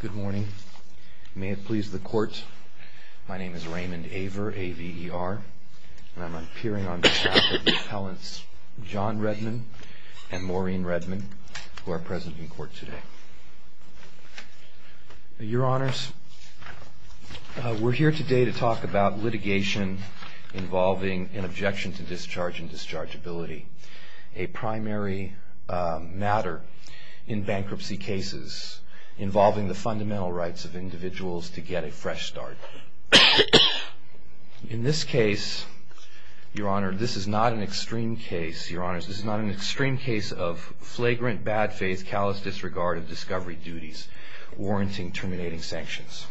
Good morning. May it please the court, my name is Raymond Aver, A-V-E-R, and I'm appearing on behalf of the appellants John Redmond and Maureen Redmond, who are present in court today. Your honors, we're here today to talk about litigation involving an objection to discharge and dischargeability, a primary matter in bankruptcy cases involving the fundamental rights of individuals to get a fresh start. In this case, your honors, this is not an extreme case of flagrant bad faith, callous disregard of discovery duties, warranting terminating sanctions.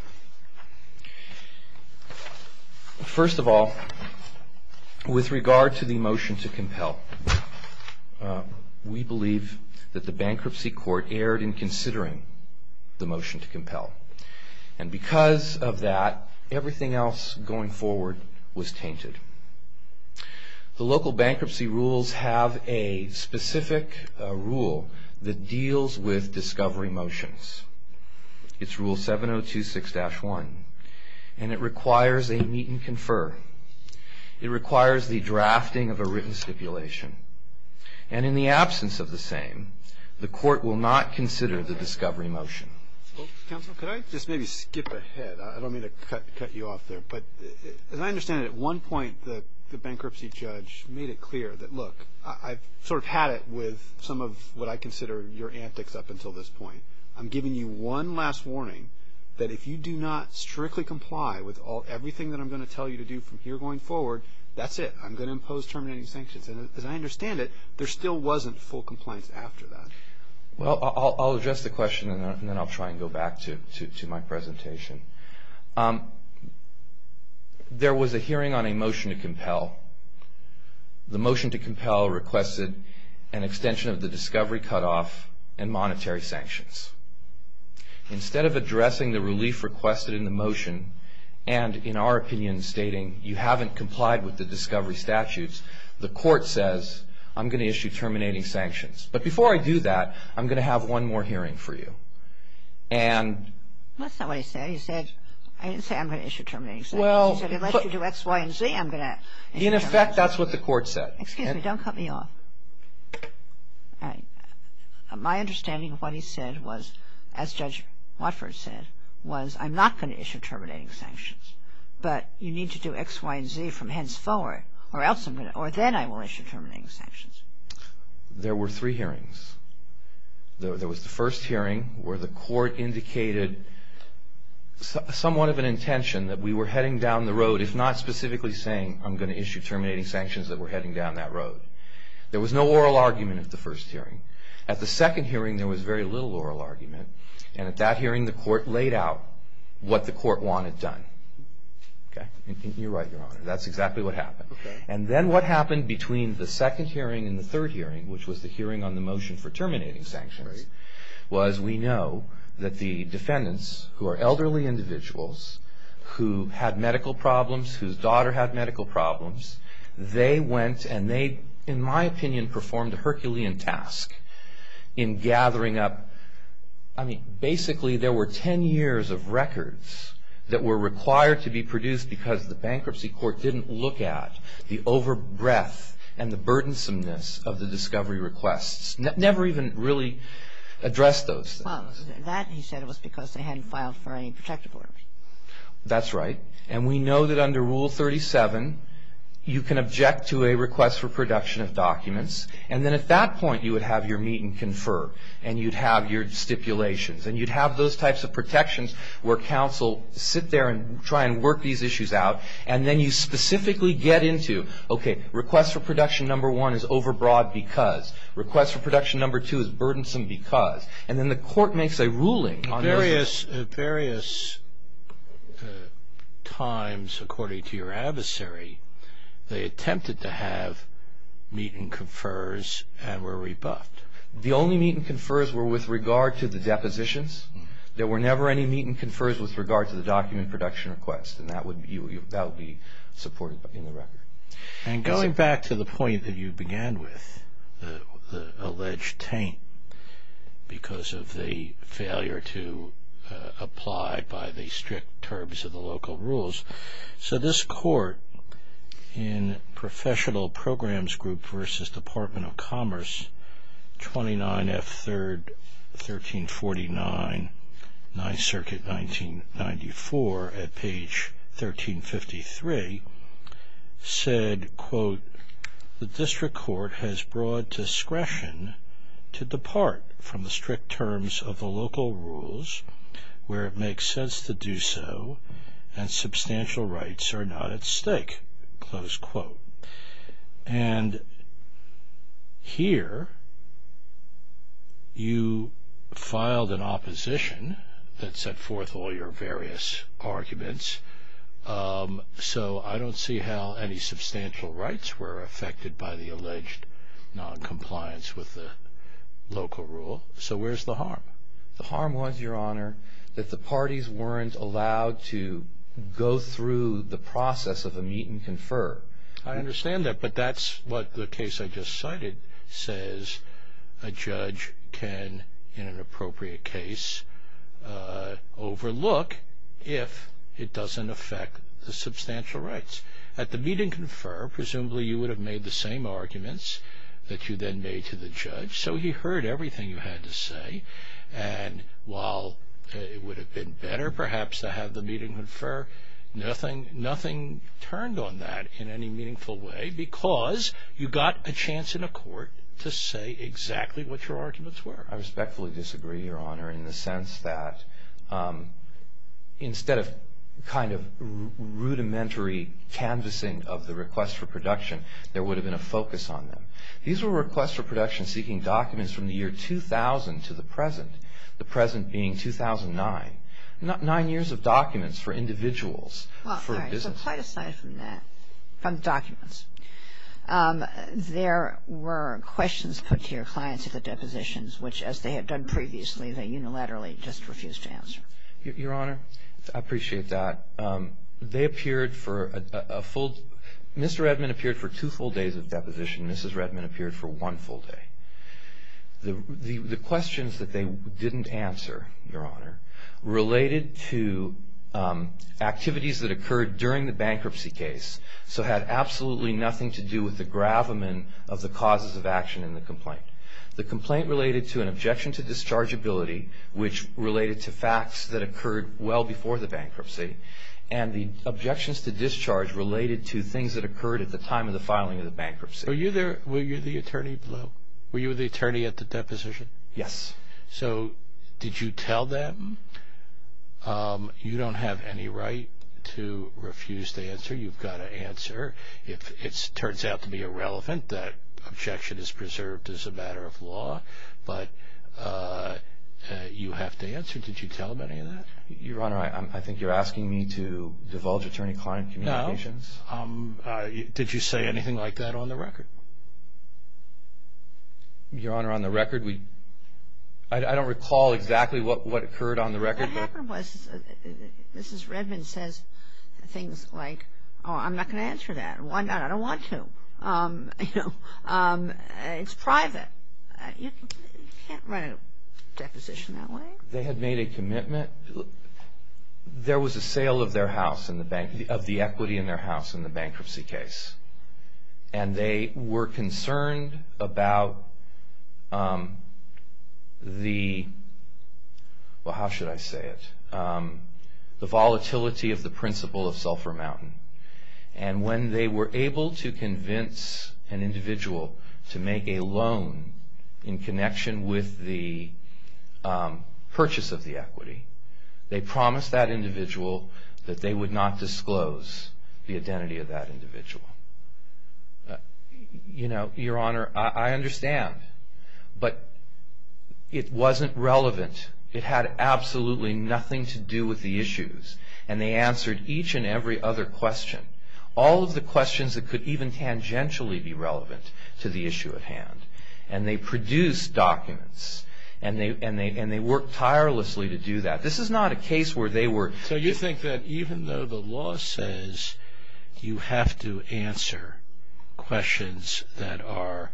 First of all, with regard to the motion to compel, we believe that the bankruptcy court erred in considering the motion to compel. And because of that, everything else going forward was tainted. The local bankruptcy rules have a specific rule that deals with discovery motions. It's rule 7026-1. And it requires a meet and confer. It requires the drafting of a written stipulation. And in the absence of the same, the court will not consider the discovery motion. Well, counsel, could I just maybe skip ahead? I don't mean to cut you off there. But as I understand it, at one point, the bankruptcy judge made it clear that, look, I've sort of had it with some of what I consider your antics up until this point. I'm giving you one last warning that if you do not strictly comply with everything that I'm going to tell you to do from here going forward, that's it. I'm going to impose terminating sanctions. And as I understand it, there still wasn't full compliance after that. Well, I'll address the question, and then I'll try and go back to my presentation. There was a hearing on a motion to compel. The motion to compel requested an extension of the discovery cutoff and monetary sanctions. Instead of addressing the relief requested in the motion and, in our opinion, stating you haven't complied with the discovery statutes, the court says, I'm going to issue terminating sanctions. But before I do that, I'm going to have one more hearing for you. That's not what he said. He said, I didn't say I'm going to issue terminating sanctions. He said, unless you do X, Y, and Z, I'm going to issue terminating sanctions. In effect, that's what the court said. Excuse me. Don't cut me off. My understanding of what he said was, as Judge Watford said, was I'm not going to issue terminating sanctions. But you need to do X, Y, and Z from henceforward, or then I will issue terminating sanctions. There were three hearings. There was the first hearing where the court indicated somewhat of an intention that we were heading down the road, if not specifically saying I'm going to issue terminating sanctions, that we're heading down that road. There was no oral argument at the first hearing. At the second hearing, there was very little oral argument. And at that hearing, the court laid out what the court wanted done. You're right, Your Honor. That's exactly what happened. Okay. And then what happened between the second hearing and the third hearing, which was the hearing on the motion for terminating sanctions, was we know that the defendants, who are elderly individuals who had medical problems, whose daughter had medical problems, they went and they, in my opinion, performed a Herculean task in gathering up, I mean, basically there were 10 years of records that were required to be produced because the bankruptcy court didn't look at the over-breath and the burdensomeness of the discovery requests, never even really addressed those things. That, he said, was because they hadn't filed for any protective orders. That's right. And we know that under Rule 37, you can object to a request for production of documents, and then at that point, you would have your meet and confer, and you'd have your stipulations, and you'd have those types of protections where counsel sit there and try and work these issues out, and then you specifically get into, okay, request for production number one is over-broad because, request for production number two is burdensome because, and then the court makes a ruling. At various times, according to your adversary, they attempted to have meet and confers and were rebuffed. The only meet and confers were with regard to the depositions. There were never any meet and confers with regard to the document production request, and that would be supported in the record. And going back to the point that you began with, the alleged taint, because of the failure to apply by the strict terms of the local rules, so this court in Professional Programs Group v. Department of Commerce, 29 F. 3rd, 1349, 9th Circuit, 1994, at page 1353, the district court has broad discretion to depart from the strict terms of the local rules where it makes sense to do so, and substantial rights are not at stake, close quote. And here, you filed an opposition that set forth all your various arguments, so I don't see how any substantial rights were affected by the alleged noncompliance with the local rule. So where's the harm? The harm was, Your Honor, that the parties weren't allowed to go through the process of the meet and confer. I understand that, but that's what the case I just cited says a judge can, in an appropriate case, overlook if it doesn't affect the substantial rights. At the meet and confer, presumably you would have made the same arguments that you then made to the judge, so he heard everything you had to say, and while it would have been better, perhaps, to have the meet and confer, nothing turned on that in any meaningful way because you got a chance in a court to say exactly what your arguments were. I respectfully disagree, Your Honor, in the sense that instead of kind of rudimentary canvassing of the request for production, there would have been a focus on them. These were requests for production seeking documents from the year 2000 to the present, the present being 2009. Nine years of documents for individuals for business. Quite aside from that, from documents, there were questions put to your clients at the depositions, which as they had done previously, they unilaterally just refused to answer. Your Honor, I appreciate that. They appeared for a full Mr. Redman appeared for two full days of deposition. Mrs. Redman appeared for one full day. The questions that they didn't answer, Your Honor, related to activities that occurred during the bankruptcy case, so had absolutely nothing to do with the gravamen of the causes of action in the complaint. The complaint related to an objection to dischargeability, which related to facts that occurred well before the bankruptcy, and the objections to discharge related to things that occurred at the time of the filing of the bankruptcy. Were you the attorney at the deposition? Yes. So did you tell them? You don't have any right to refuse to answer. You've got to answer. If it turns out to be irrelevant, that objection is preserved as a matter of law, but you have to answer. Did you tell them any of that? Your Honor, I think you're asking me to divulge attorney-client communications. No. Did you say anything like that on the record? Your Honor, on the record, I don't recall exactly what occurred on the record. What happened was Mrs. Redman says things like, oh, I'm not going to answer that. Why not? I don't want to. It's private. You can't run a deposition that way. They had made a commitment. There was a sale of the equity in their house in the bankruptcy case, and they were concerned about the, well, how should I say it, the volatility of the principle of Sulphur Mountain. When they were able to convince an individual to make a loan in connection with the purchase of the equity, they promised that individual that they would not disclose the identity of that individual. Your Honor, I understand, but it wasn't relevant. It had absolutely nothing to do with the issues, and they answered each and every other question, all of the questions that could even tangentially be relevant to the issue at hand, and they produced documents, and they worked tirelessly to do that. This is not a case where they were. So you think that even though the law says you have to answer questions that are,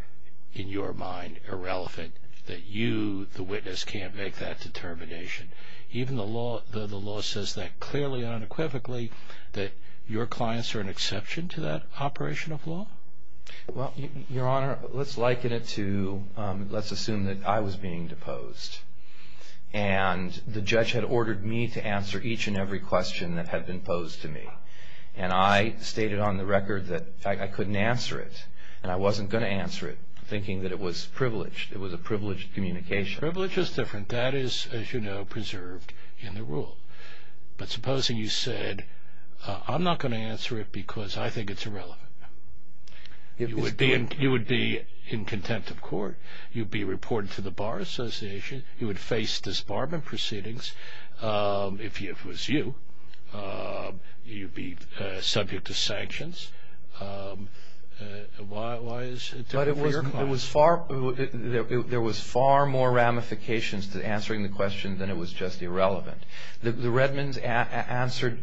in your mind, irrelevant, that you, the witness, can't make that determination, even though the law says that clearly and unequivocally, that your clients are an exception to that operation of law? Well, Your Honor, let's liken it to, let's assume that I was being deposed, and the judge had ordered me to answer each and every question that had been posed to me, and I stated on the record that I couldn't answer it, and I wasn't going to answer it, thinking that it was privileged. It was a privileged communication. Privilege is different. That is, as you know, preserved in the rule. But supposing you said, I'm not going to answer it because I think it's irrelevant. You would be in contempt of court. You'd be reported to the Bar Association. You would face disbarment proceedings if it was you. You'd be subject to sanctions. Why is it different for your clients? There was far more ramifications to answering the question than it was just irrelevant. The Redmonds answered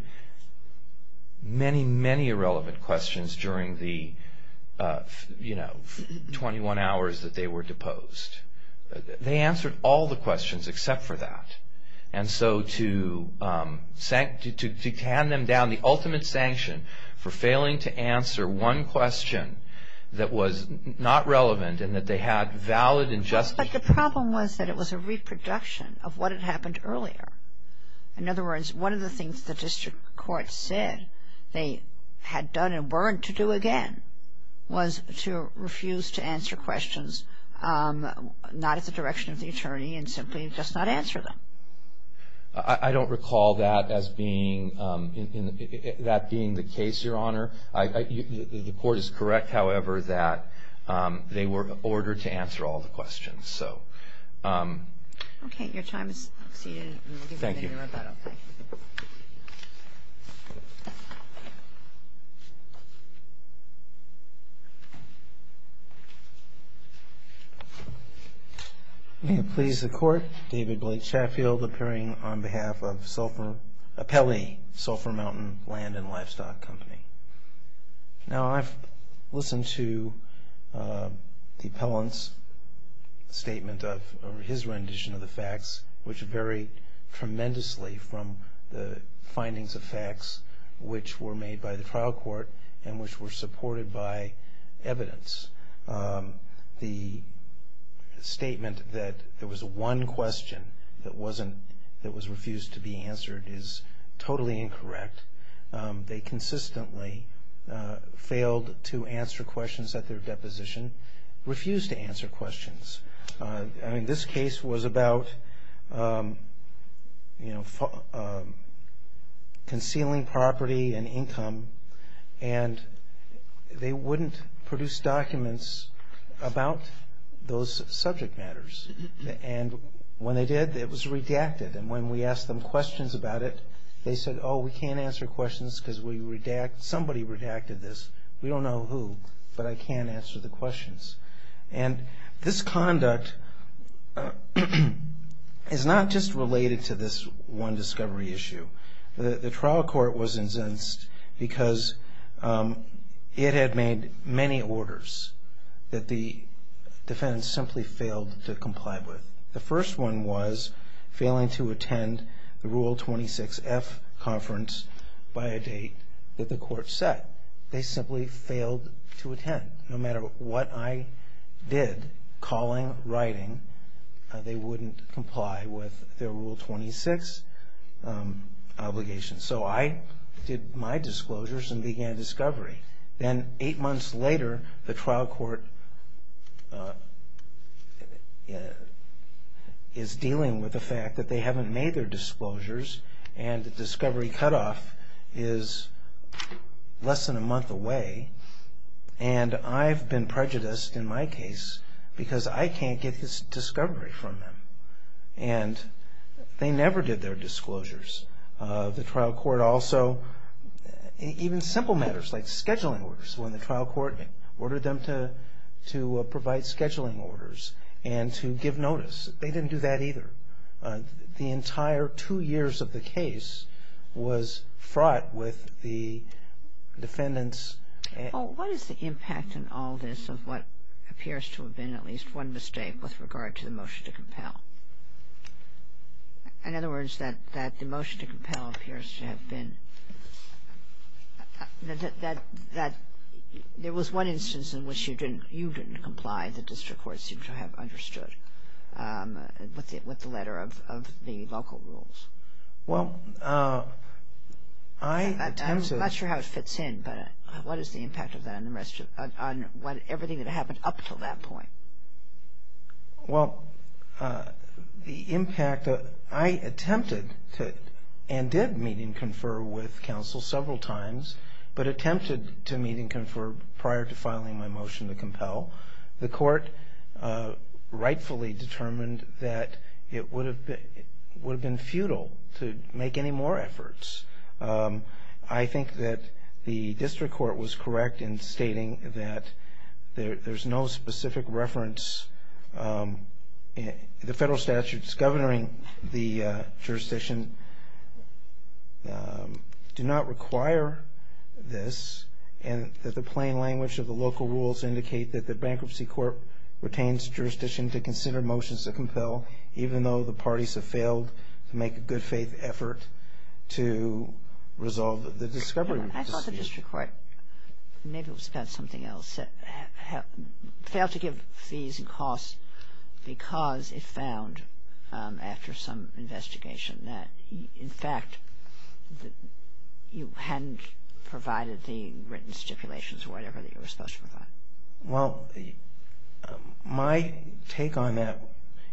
many, many irrelevant questions during the 21 hours that they were deposed. They answered all the questions except for that. And so to hand them down the ultimate sanction for failing to answer one question that was not relevant and that they had valid and just. But the problem was that it was a reproduction of what had happened earlier. In other words, one of the things the district court said they had done and weren't to do again was to refuse to answer questions not at the direction of the attorney and simply just not answer them. I don't recall that as being the case, Your Honor. The court is correct, however, that they were ordered to answer all the questions. Okay, your time has exceeded. Thank you. May it please the Court, David Blake Sheffield appearing on behalf of Pelley Sulphur Mountain Land and Livestock Company. Now I've listened to the appellant's statement or his rendition of the facts, which vary tremendously from the findings of facts which were made by the trial court and which were supported by evidence. The statement that there was one question that was refused to be answered is totally incorrect. They consistently failed to answer questions at their deposition, refused to answer questions. This case was about concealing property and income and they wouldn't produce documents about those subject matters. And when they did, it was redacted. And when we asked them questions about it, they said, oh, we can't answer questions because somebody redacted this. We don't know who, but I can't answer the questions. And this conduct is not just related to this one discovery issue. The trial court was incensed because it had made many orders that the defendants simply failed to comply with. The first one was failing to attend the Rule 26F conference by a date that the court set. They simply failed to attend. No matter what I did, calling, writing, they wouldn't comply with their Rule 26. So I did my disclosures and began discovery. Then eight months later, the trial court is dealing with the fact that they haven't made their disclosures and the discovery cutoff is less than a month away. And I've been prejudiced in my case because I can't get this discovery from them. And they never did their disclosures. The trial court also, even simple matters like scheduling orders, when the trial court ordered them to provide scheduling orders and to give notice, they didn't do that either. The entire two years of the case was fraught with the defendants. Well, what is the impact in all this of what appears to have been at least one mistake with regard to the motion to compel? In other words, that the motion to compel appears to have been that there was one instance in which you didn't comply, the district court seemed to have understood, with the letter of the local rules. Well, I attempted. I'm not sure how it fits in, but what is the impact of that on everything that happened up until that point? Well, the impact, I attempted and did meet and confer with counsel several times, but attempted to meet and confer prior to filing my motion to compel. The court rightfully determined that it would have been futile to make any more efforts. I think that the district court was correct in stating that there's no specific reference. The federal statutes governing the jurisdiction do not require this, and that the plain language of the local rules indicate that the bankruptcy court retains jurisdiction to consider motions to compel, even though the parties have failed to make a good-faith effort to resolve the discovery dispute. I thought the district court, maybe it was about something else, failed to give fees and costs because it found, after some investigation, that, in fact, you hadn't provided the written stipulations or whatever that you were supposed to provide. Well, my take on that,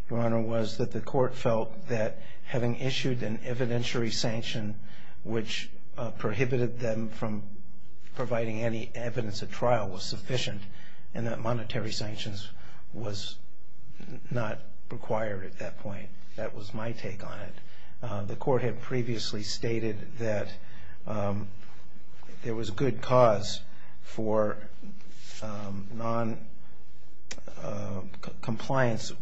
Your Honor, was that the court felt that having issued an evidentiary sanction which prohibited them from providing any evidence at trial was sufficient and that monetary sanctions was not required at that point. That was my take on it. The court had previously stated that there was good cause for noncompliance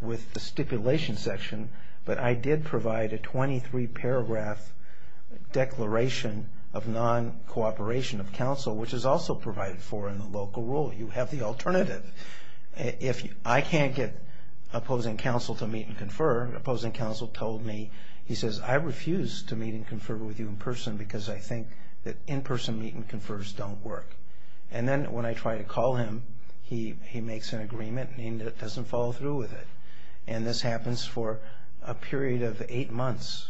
with the stipulation section, but I did provide a 23-paragraph declaration of noncooperation of counsel, which is also provided for in the local rule. You have the alternative. I can't get opposing counsel to meet and confer. Opposing counsel told me, he says, I refuse to meet and confer with you in person because I think that in-person meet and confers don't work. And then when I try to call him, he makes an agreement and he doesn't follow through with it. And this happens for a period of eight months.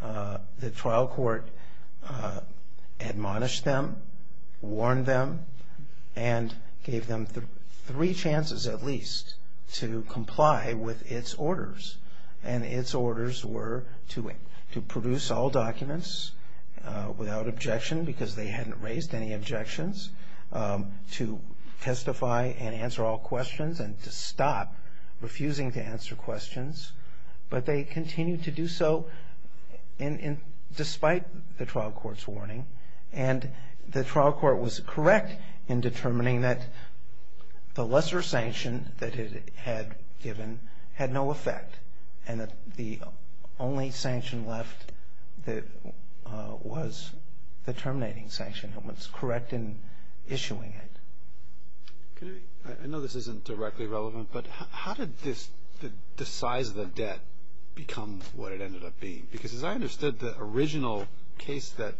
The trial court admonished them, warned them, and gave them three chances at least to comply with its orders. And its orders were to produce all documents without objection, because they hadn't raised any objections, to testify and answer all questions and to stop refusing to answer questions. But they continued to do so despite the trial court's warning. And the trial court was correct in determining that the lesser sanction that it had given had no effect and that the only sanction left was the terminating sanction. It was correct in issuing it. I know this isn't directly relevant, but how did the size of the debt become what it ended up being? Because as I understood, the original case that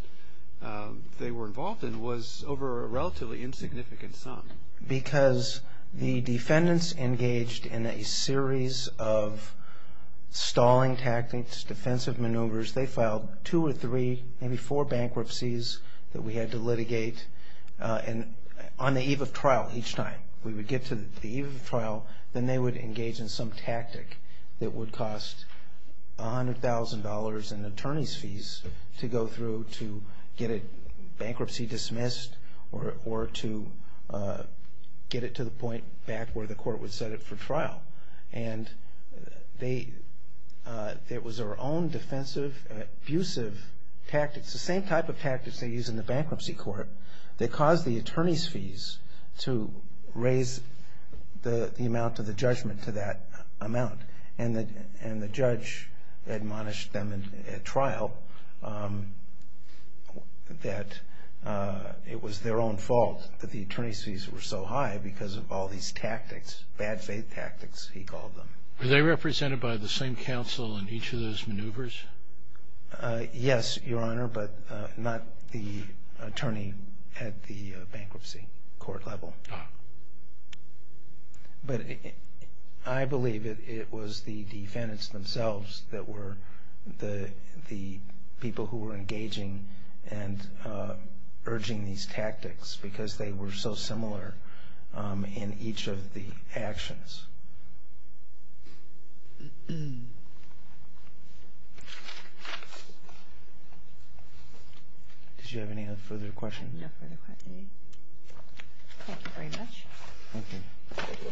they were involved in was over a relatively insignificant sum. Because the defendants engaged in a series of stalling tactics, defensive maneuvers. They filed two or three, maybe four bankruptcies that we had to litigate. And on the eve of trial each time, we would get to the eve of trial, then they would engage in some tactic that would cost $100,000 in attorney's fees to go through to get a bankruptcy dismissed or to get it to the point back where the court would set it for trial. And it was their own defensive, abusive tactics, the same type of tactics they used in the bankruptcy court, that caused the attorney's fees to raise the amount of the judgment to that amount. And the judge admonished them at trial that it was their own fault that the attorney's fees were so high because of all these tactics, bad faith tactics he called them. Were they represented by the same counsel in each of those maneuvers? Yes, Your Honor, but not the attorney at the bankruptcy court level. But I believe it was the defendants themselves that were the people who were engaging and urging these tactics because they were so similar in each of the actions. Did you have any further questions? No further questions. Thank you very much. Thank you.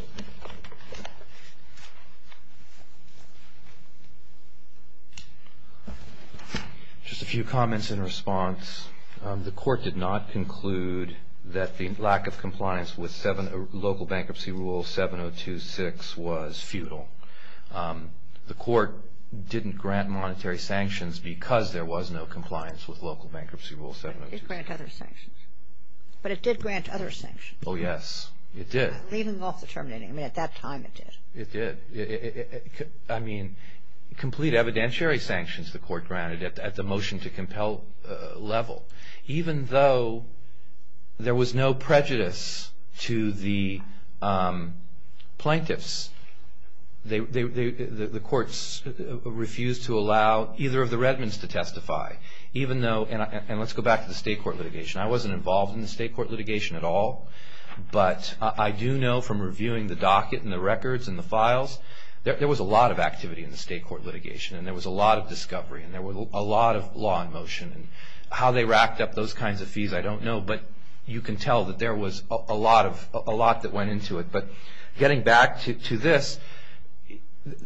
Just a few comments in response. The court did not conclude that the lack of compliance with local bankruptcy rule 7026 was futile. The court didn't grant monetary sanctions because there was no compliance with local bankruptcy rule 7026. It did grant other sanctions. But it did grant other sanctions. Oh, yes, it did. Leaving off the terminating. I mean, at that time it did. It did. I mean, complete evidentiary sanctions the court granted at the motion to compel level. Even though there was no prejudice to the plaintiffs. The courts refused to allow either of the Redmonds to testify. And let's go back to the state court litigation. I wasn't involved in the state court litigation at all. But I do know from reviewing the docket and the records and the files, there was a lot of activity in the state court litigation. And there was a lot of discovery and there was a lot of law in motion. How they racked up those kinds of fees, I don't know. But you can tell that there was a lot that went into it. But getting back to this,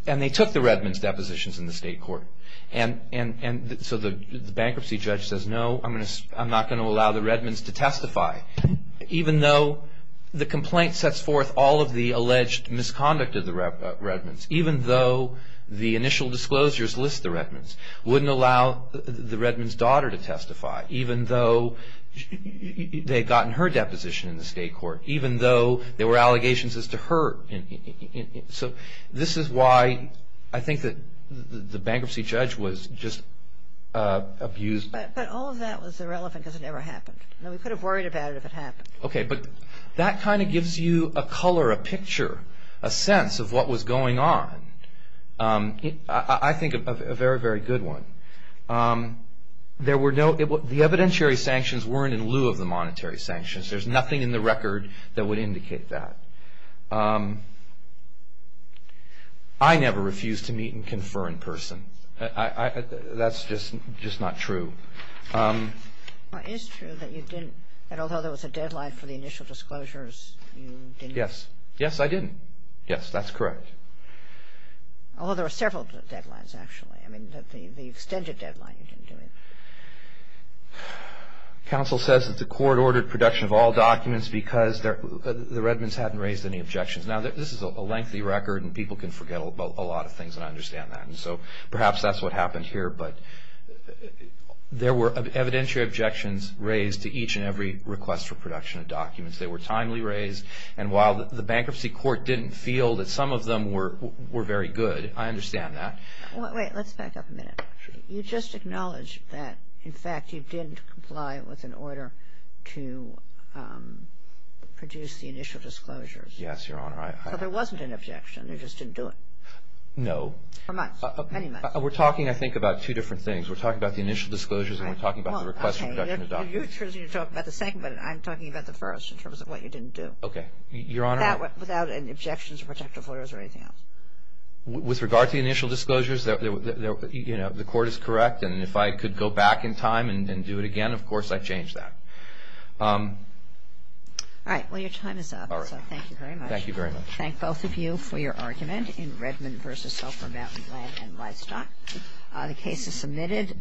and they took the Redmonds' depositions in the state court. And so the bankruptcy judge says, no, I'm not going to allow the Redmonds to testify. Even though the complaint sets forth all of the alleged misconduct of the Redmonds. Even though the initial disclosures list the Redmonds. Wouldn't allow the Redmonds' daughter to testify. Even though they had gotten her deposition in the state court. Even though there were allegations as to her. So this is why I think that the bankruptcy judge was just abused. But all of that was irrelevant because it never happened. We could have worried about it if it happened. Okay, but that kind of gives you a color, a picture, a sense of what was going on. I think a very, very good one. The evidentiary sanctions weren't in lieu of the monetary sanctions. There's nothing in the record that would indicate that. I never refused to meet and confer in person. That's just not true. It is true that you didn't. And although there was a deadline for the initial disclosures, you didn't. Yes, I didn't. Yes, that's correct. Although there were several deadlines, actually. I mean, the extended deadline, you didn't do it. Counsel says that the court ordered production of all documents because the Redmonds hadn't raised any objections. Now, this is a lengthy record, and people can forget a lot of things, and I understand that. And so perhaps that's what happened here. But there were evidentiary objections raised to each and every request for production of documents. They were timely raised. And while the bankruptcy court didn't feel that some of them were very good, I understand that. Wait, let's back up a minute. You just acknowledged that, in fact, you didn't comply with an order to produce the initial disclosures. Yes, Your Honor. So there wasn't an objection. You just didn't do it. No. For months, many months. We're talking, I think, about two different things. We're talking about the initial disclosures, and we're talking about the request for production of documents. You're talking about the second, but I'm talking about the first in terms of what you didn't do. Okay, Your Honor. Without any objections or protective orders or anything else. With regard to the initial disclosures, the court is correct. And if I could go back in time and do it again, of course, I'd change that. All right, well, your time is up. All right. Thank you very much. Thank you very much. Thank both of you for your argument in Redmond v. Sulfur Mountain Land and Livestock. The case is submitted.